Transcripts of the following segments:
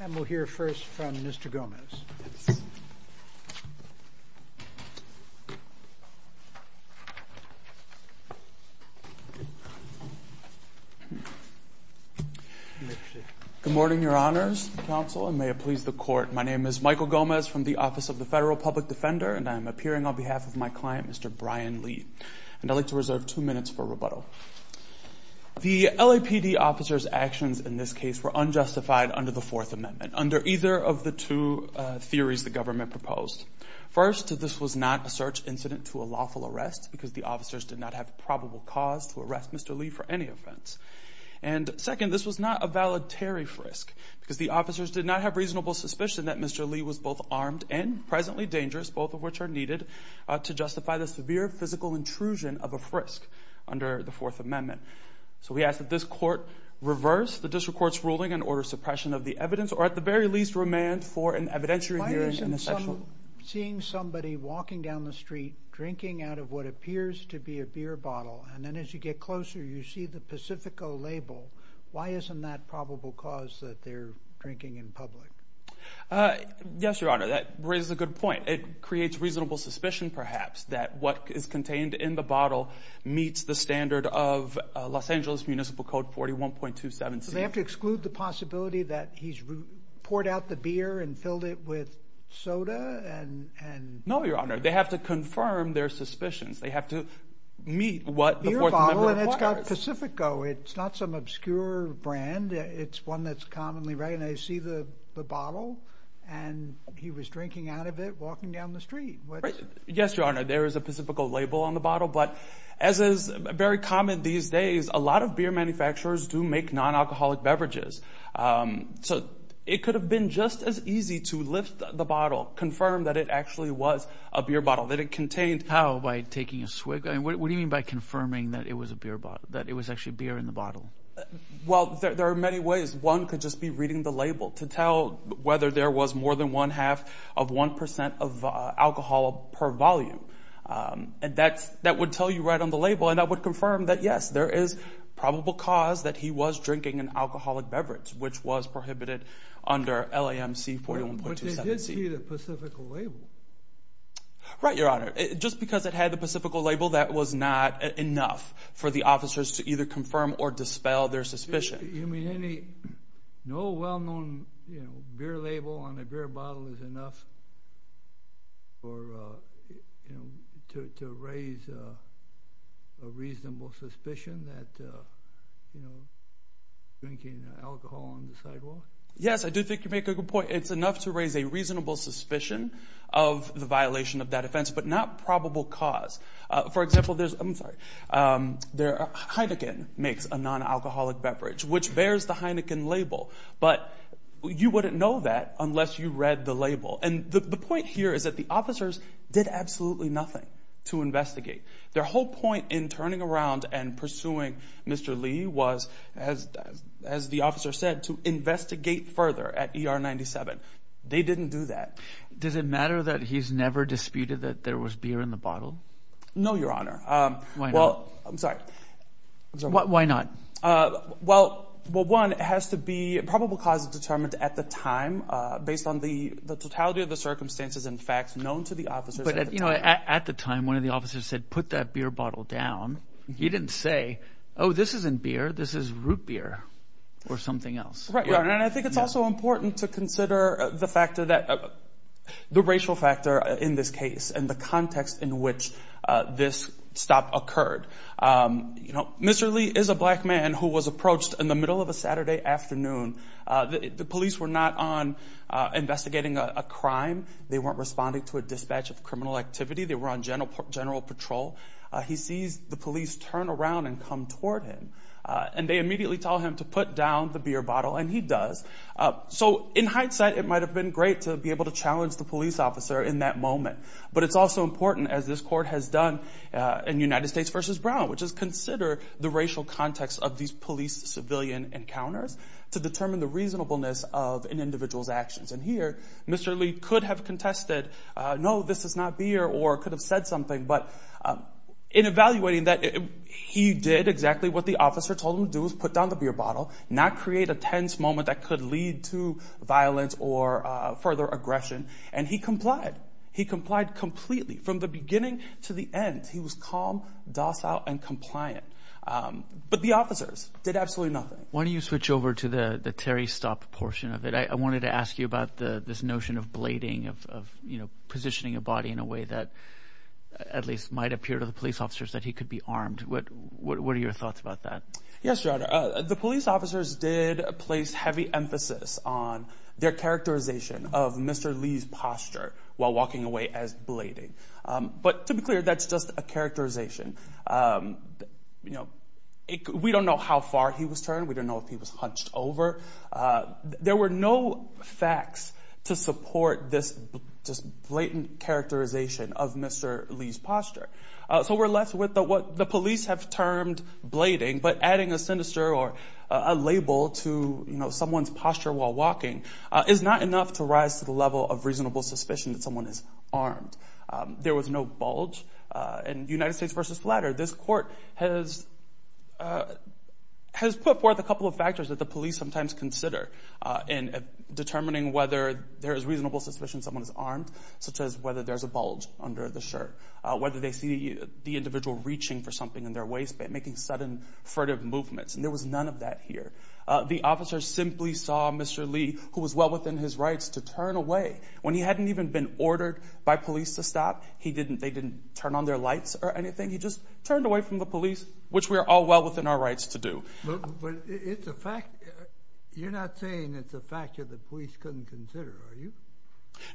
And we'll hear first from Mr. Gomez. Good morning, your honors, counsel, and may it please the court. My name is Michael Gomez from the Office of the Federal Public Defender, and I am appearing on behalf of my client, Mr. Brian Lee. And I'd like to reserve two minutes for rebuttal. The LAPD officer's actions in this case were unjustified under the Fourth Amendment, under either of the two theories the government proposed. First, this was not a search incident to a lawful arrest because the officers did not have probable cause to arrest Mr. Lee for any offense. And second, this was not a valid tariff risk because the officers did not have reasonable suspicion that Mr. Lee was both armed and presently dangerous, both of which are needed to justify the severe physical intrusion of a frisk under the Fourth Amendment. So we ask that this court reverse the district court's ruling and order suppression of the evidence, or at the very least, remand for an evidentiary hearing in the sexual— Why isn't some—seeing somebody walking down the street drinking out of what appears to be a beer bottle, and then as you get closer you see the Pacifico label, why isn't that probable cause that they're drinking in public? Yes, your honor, that raises a good point. It creates reasonable suspicion, perhaps, that what is contained in the bottle meets the standard of Los Angeles Municipal Code 41.27c. So they have to exclude the possibility that he's poured out the beer and filled it with soda and— No, your honor, they have to confirm their suspicions. They have to meet what the Fourth Amendment requires. Beer bottle, and it's got Pacifico. It's not some obscure brand. It's one that's commonly read, and they see the bottle, and he was drinking out of it walking down the street. Yes, your honor, there is a Pacifico label on the bottle, but as is very common these days, a lot of beer manufacturers do make non-alcoholic beverages. So it could have been just as easy to lift the bottle, confirm that it actually was a beer bottle, that it contained— How? By taking a swig? What do you mean by confirming that it was a beer bottle, that it was actually beer in the bottle? Well, there are many ways. One could just be reading the label to tell whether there was more than one-half of 1% of alcohol per volume, and that would tell you right on the label, and that would confirm that, yes, there is probable cause that he was drinking an alcoholic beverage, which was prohibited under LAMC 41.27c. But they did see the Pacifico label. Right, your honor. Just because it had the Pacifico label, that was not enough for the officers to either confirm or dispel their suspicion. You mean any—no well-known beer label on a beer bottle is enough to raise a reasonable suspicion that he was drinking alcohol on the sidewalk? Yes, I do think you make a good point. It's enough to raise a reasonable suspicion of the violation of that offense, but not probable cause. For example, there's—I'm sorry. Heineken makes a non-alcoholic beverage, which bears the Heineken label, but you wouldn't know that unless you read the label. And the point here is that the officers did absolutely nothing to investigate. Their whole point in turning around and pursuing Mr. Lee was, as the officer said, to investigate further at ER 97. They didn't do that. Does it matter that he's never disputed that there was beer in the bottle? No, your honor. Why not? I'm sorry. Why not? Well, one, it has to be probable cause determined at the time based on the totality of the circumstances and facts known to the officers. But at the time, one of the officers said, put that beer bottle down. He didn't say, oh, this isn't beer. This is root beer or something else. Right, right. And I think it's also important to consider the factor that—the racial factor in this case and the context in which this stop occurred. You know, Mr. Lee is a black man who was approached in the middle of a Saturday afternoon. The police were not on investigating a crime. They weren't responding to a dispatch of criminal activity. They were on general patrol. He sees the police turn around and come toward him, and they immediately tell him to put down the beer bottle, and he does. So in hindsight, it might have been great to be able to challenge the police officer in that moment. But it's also important, as this court has done in United States v. Brown, which is consider the racial context of these police-civilian encounters to determine the reasonableness of an individual's actions. And here, Mr. Lee could have contested, no, this is not beer, or could have said something. But in evaluating that, he did exactly what the officer told him to do, which was put down the beer bottle, not create a tense moment that could lead to violence or further aggression, and he complied. He complied completely from the beginning to the end. He was calm, docile, and compliant. But the officers did absolutely nothing. Why don't you switch over to the Terry's stop portion of it. I wanted to ask you about this notion of blading, of, you know, positioning a body in a way that at least might appear to the police officers that he could be armed. What are your thoughts about that? Yes, Your Honor, the police officers did place heavy emphasis on their characterization of Mr. Lee's posture while walking away as blading. But to be clear, that's just a characterization. You know, we don't know how far he was turned. We don't know if he was hunched over. There were no facts to support this blatant characterization of Mr. Lee's posture. So we're left with what the police have termed blading, but adding a sinister or a label to, you know, someone's posture while walking is not enough to rise to the level of reasonable suspicion that someone is armed. There was no bulge. In United States v. Flatter, this court has put forth a couple of factors that the police sometimes consider in determining whether there is reasonable suspicion someone is armed, such as whether there's a bulge under the shirt, whether they see the individual reaching for something in their waistband, making sudden furtive movements, and there was none of that here. The officer simply saw Mr. Lee, who was well within his rights to turn away. When he hadn't even been ordered by police to stop, they didn't turn on their lights or anything. He just turned away from the police, which we are all well within our rights to do. But it's a fact. You're not saying it's a factor the police couldn't consider, are you?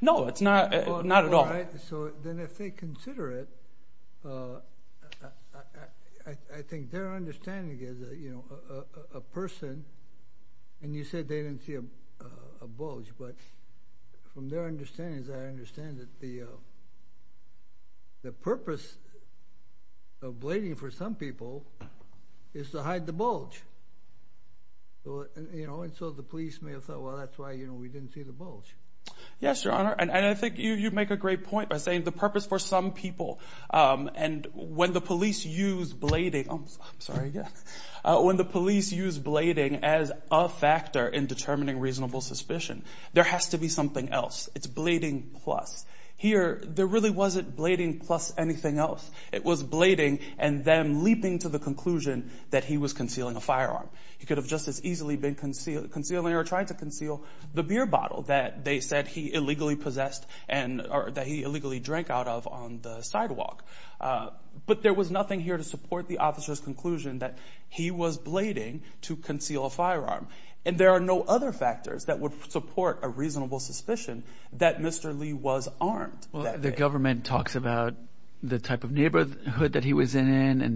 No, it's not at all. All right. So then if they consider it, I think their understanding is that, you know, a person, and you said they didn't see a bulge, but from their understanding, I understand that the purpose of blading for some people is to hide the bulge. You know, and so the police may have thought, well, that's why, you know, we didn't see the bulge. Yes, Your Honor, and I think you make a great point by saying the purpose for some people, and when the police use blading as a factor in determining reasonable suspicion, there has to be something else. It's blading plus. Here, there really wasn't blading plus anything else. It was blading and them leaping to the conclusion that he was concealing a firearm. He could have just as easily been concealing or trying to conceal the beer bottle that they said he illegally possessed or that he illegally drank out of on the sidewalk. But there was nothing here to support the officer's conclusion that he was blading to conceal a firearm. And there are no other factors that would support a reasonable suspicion that Mr. Lee was armed. Well, the government talks about the type of neighborhood that he was in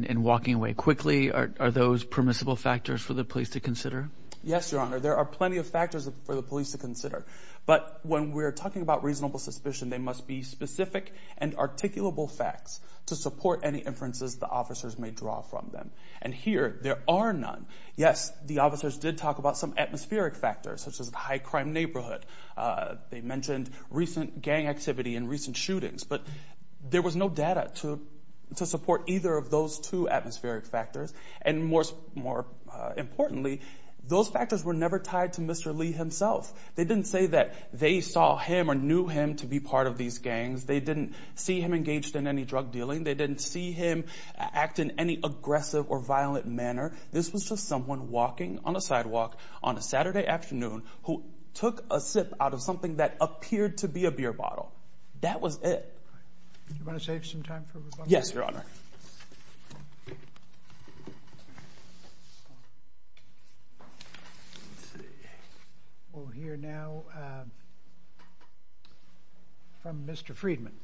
and walking away quickly. Are those permissible factors for the police to consider? Yes, Your Honor, there are plenty of factors for the police to consider. But when we're talking about reasonable suspicion, they must be specific and articulable facts to support any inferences the officers may draw from them. And here, there are none. Yes, the officers did talk about some atmospheric factors, such as a high-crime neighborhood. They mentioned recent gang activity and recent shootings. But there was no data to support either of those two atmospheric factors. And more importantly, those factors were never tied to Mr. Lee himself. They didn't say that they saw him or knew him to be part of these gangs. They didn't see him engaged in any drug dealing. They didn't see him act in any aggressive or violent manner. This was just someone walking on a sidewalk on a Saturday afternoon who took a sip out of something that appeared to be a beer bottle. That was it. Do you want to save some time for rebuttal? Yes, Your Honor. We'll hear now from Mr. Friedman.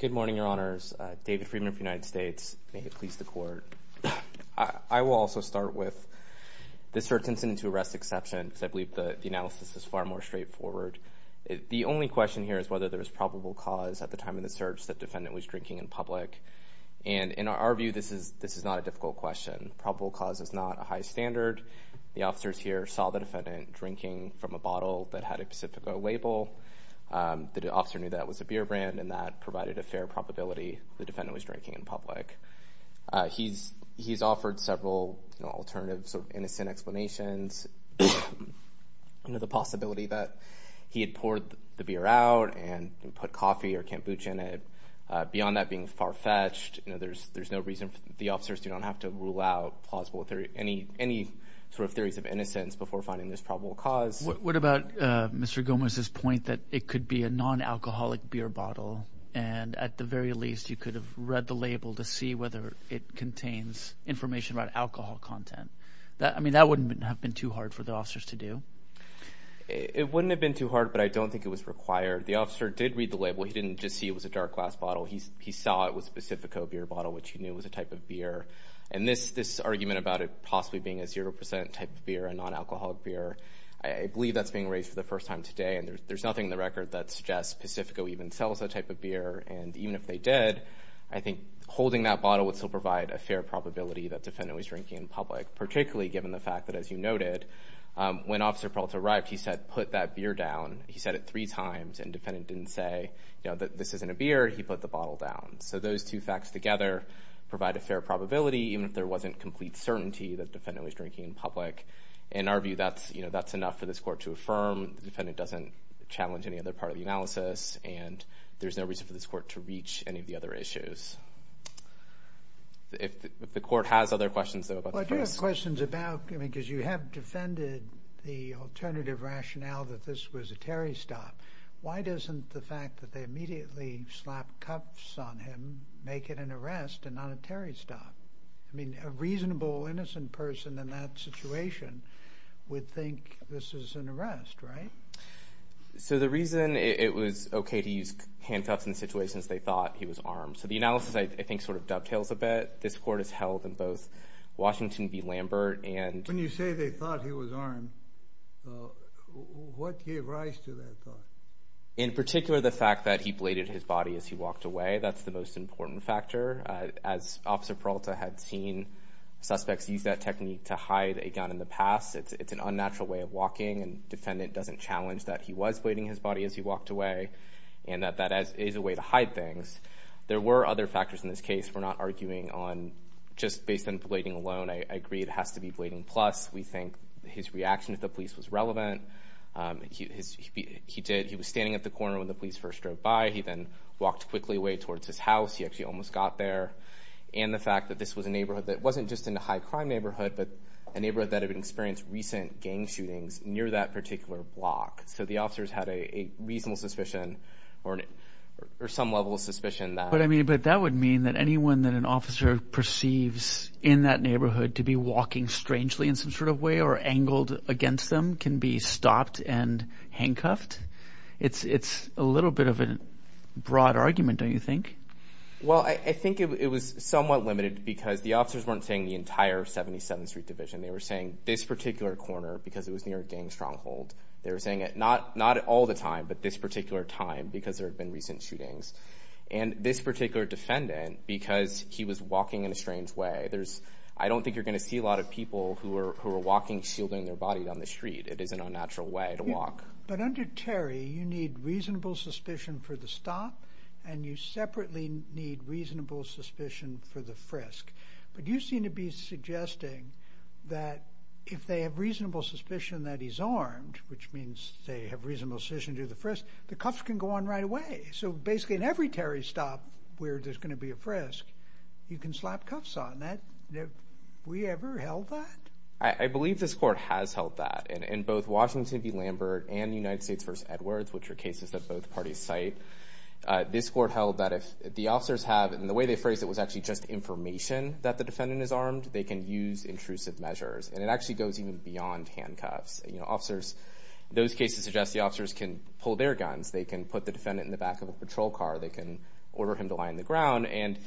Good morning, Your Honors. David Friedman of the United States. May it please the Court. I will also start with the search incident to arrest exception, because I believe the analysis is far more straightforward. The only question here is whether there was probable cause at the time of the search that the defendant was drinking in public. And in our view, this is not a difficult question. Probable cause is not a high standard. The officers here saw the defendant drinking from a bottle that had a Pacifico label. The officer knew that was a beer brand, and that provided a fair probability the defendant was drinking in public. He's offered several alternative sort of innocent explanations, the possibility that he had poured the beer out and put coffee or kombucha in it. Beyond that being far-fetched, there's no reason the officers do not have to rule out any sort of theories of innocence before finding this probable cause. What about Mr. Gomez's point that it could be a non-alcoholic beer bottle, and at the very least you could have read the label to see whether it contains information about alcohol content? I mean, that wouldn't have been too hard for the officers to do. It wouldn't have been too hard, but I don't think it was required. The officer did read the label. He didn't just see it was a dark glass bottle. He saw it was a Pacifico beer bottle, which he knew was a type of beer. And this argument about it possibly being a 0% type of beer, a non-alcoholic beer, I believe that's being raised for the first time today, and there's nothing in the record that suggests Pacifico even sells that type of beer. And even if they did, I think holding that bottle would still provide a fair probability that Defendant was drinking in public, particularly given the fact that, as you noted, when Officer Peralta arrived, he said, put that beer down. He said it three times, and Defendant didn't say, you know, this isn't a beer. He put the bottle down. So those two facts together provide a fair probability, even if there wasn't complete certainty that Defendant was drinking in public. In our view, that's enough for this court to affirm. The Defendant doesn't challenge any other part of the analysis, and there's no reason for this court to reach any of the other issues. If the court has other questions, though, about the case. Well, I do have questions about, I mean, because you have defended the alternative rationale that this was a Terry stop. Why doesn't the fact that they immediately slapped cuffs on him make it an arrest and not a Terry stop? I mean, a reasonable innocent person in that situation would think this is an arrest, right? So the reason it was okay to use handcuffs in situations they thought he was armed. So the analysis, I think, sort of dovetails a bit. This court has held in both Washington v. Lambert and When you say they thought he was armed, what gave rise to that thought? In particular, the fact that he bladed his body as he walked away. That's the most important factor. As Officer Peralta had seen, suspects use that technique to hide a gun in the past. It's an unnatural way of walking, and the Defendant doesn't challenge that he was blading his body as he walked away and that that is a way to hide things. There were other factors in this case. We're not arguing on just based on blading alone. I agree it has to be blading plus. We think his reaction to the police was relevant. He was standing at the corner when the police first drove by. He then walked quickly away towards his house. He actually almost got there. And the fact that this was a neighborhood that wasn't just in a high-crime neighborhood but a neighborhood that had experienced recent gang shootings near that particular block. So the officers had a reasonable suspicion or some level of suspicion. But that would mean that anyone that an officer perceives in that neighborhood to be walking strangely in some sort of way or angled against them can be stopped and handcuffed. It's a little bit of a broad argument, don't you think? Well, I think it was somewhat limited because the officers weren't saying the entire 77th Street division. They were saying this particular corner because it was near a gang stronghold. They were saying it not all the time but this particular time because there had been recent shootings. And this particular Defendant because he was walking in a strange way. I don't think you're going to see a lot of people who are walking shielding their body down the street. It is an unnatural way to walk. But under Terry, you need reasonable suspicion for the stop and you separately need reasonable suspicion for the frisk. But you seem to be suggesting that if they have reasonable suspicion that he's armed, which means they have reasonable suspicion to do the frisk, the cuffs can go on right away. So basically in every Terry stop where there's going to be a frisk, you can slap cuffs on. Have we ever held that? I believe this Court has held that. In both Washington v. Lambert and United States v. Edwards, which are cases that both parties cite, this Court held that if the officers have, and the way they phrased it was actually just information that the Defendant is armed, they can use intrusive measures. And it actually goes even beyond handcuffs. Those cases suggest the officers can pull their guns. They can put the Defendant in the back of a patrol car. They can order him to lie on the ground. And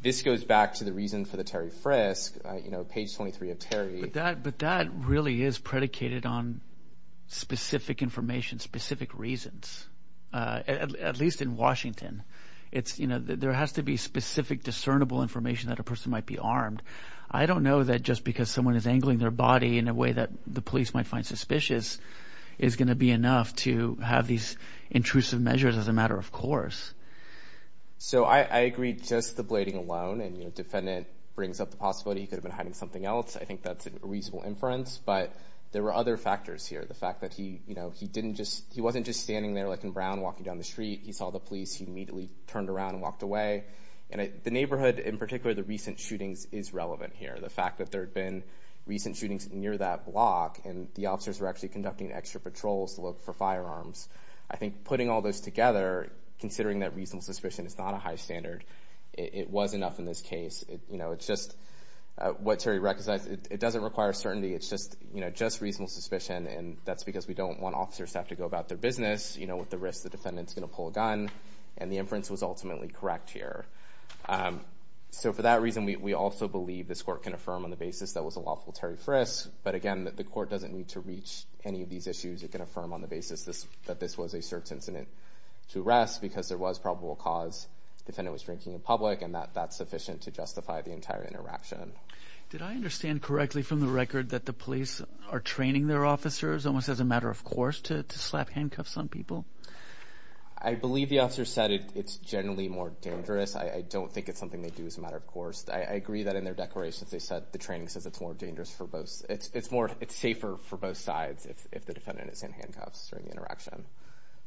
this goes back to the reason for the Terry frisk, page 23 of Terry. But that really is predicated on specific information, specific reasons, at least in Washington. There has to be specific discernible information that a person might be armed. I don't know that just because someone is angling their body in a way that the police might find suspicious is going to be enough to have these intrusive measures as a matter of course. So I agree just the blading alone, and the Defendant brings up the possibility he could have been hiding something else. I think that's a reasonable inference. But there were other factors here. The fact that he wasn't just standing there like in Brown walking down the street. He saw the police. He immediately turned around and walked away. And the neighborhood, in particular the recent shootings, is relevant here. The fact that there had been recent shootings near that block, and the officers were actually conducting extra patrols to look for firearms. I think putting all those together, considering that reasonable suspicion is not a high standard, it was enough in this case. It's just what Terry recognized. It doesn't require certainty. It's just reasonable suspicion, and that's because we don't want officers to have to go about their business with the risk the Defendant is going to pull a gun. And the inference was ultimately correct here. So for that reason, we also believe this Court can affirm on the basis that it was a lawful Terry Frist. But again, the Court doesn't need to reach any of these issues. It can affirm on the basis that this was a search incident to arrest because there was probable cause. The Defendant was drinking in public, and that's sufficient to justify the entire interaction. Did I understand correctly from the record that the police are training their officers, almost as a matter of course, to slap handcuffs on people? I believe the officers said it's generally more dangerous. I don't think it's something they do as a matter of course. I agree that in their declarations the training says it's safer for both sides if the Defendant is in handcuffs during the interaction.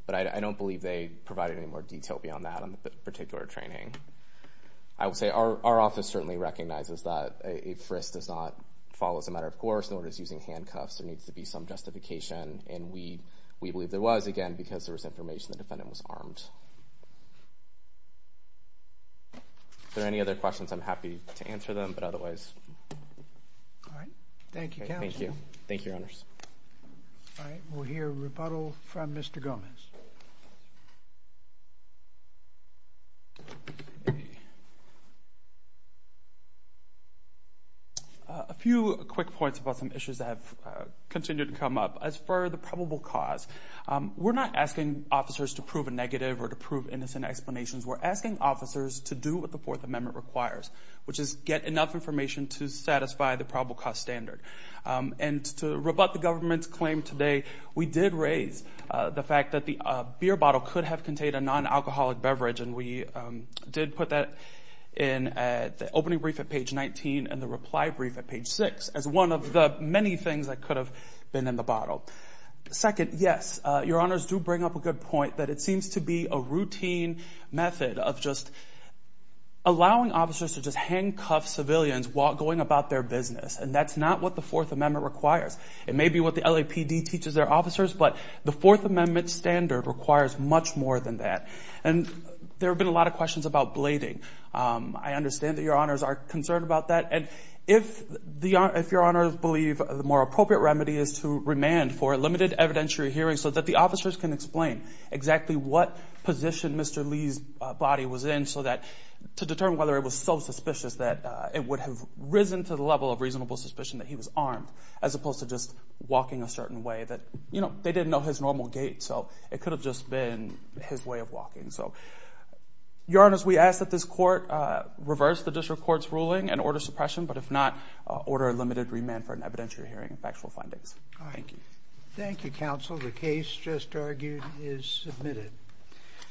But I don't believe they provide any more detail beyond that on the particular training. I would say our office certainly recognizes that a Frist does not fall as a matter of course, nor does using handcuffs. There needs to be some justification, and we believe there was, again, because there was information the Defendant was armed. Are there any other questions? I'm happy to answer them, but otherwise. Thank you, Counsel. Thank you. Thank you, Your Honors. All right. We'll hear rebuttal from Mr. Gomez. A few quick points about some issues that have continued to come up. As for the probable cause, we're not asking officers to prove a negative or to prove innocent explanations. We're asking officers to do what the Fourth Amendment requires, which is get enough information to satisfy the probable cause standard and to rebut the government's claim today. We did raise the fact that the beer bottle could have contained a non-alcoholic beverage, and we did put that in the opening brief at page 19 and the reply brief at page 6 as one of the many things that could have been in the bottle. Second, yes, Your Honors do bring up a good point that it seems to be a routine method of just allowing officers to just handcuff civilians while going about their business, and that's not what the Fourth Amendment requires. It may be what the LAPD teaches their officers, but the Fourth Amendment standard requires much more than that. And there have been a lot of questions about blading. I understand that Your Honors are concerned about that. And if Your Honors believe the more appropriate remedy is to remand for a limited evidentiary hearing so that the officers can explain exactly what position Mr. Lee's body was in to determine whether it was so suspicious that it would have risen to the level of reasonable suspicion that he was armed as opposed to just walking a certain way that, you know, they didn't know his normal gait, so it could have just been his way of walking. So Your Honors, we ask that this court reverse the district court's ruling and order suppression, but if not, order a limited remand for an evidentiary hearing and factual findings. Thank you. Thank you, counsel. The case just argued is submitted.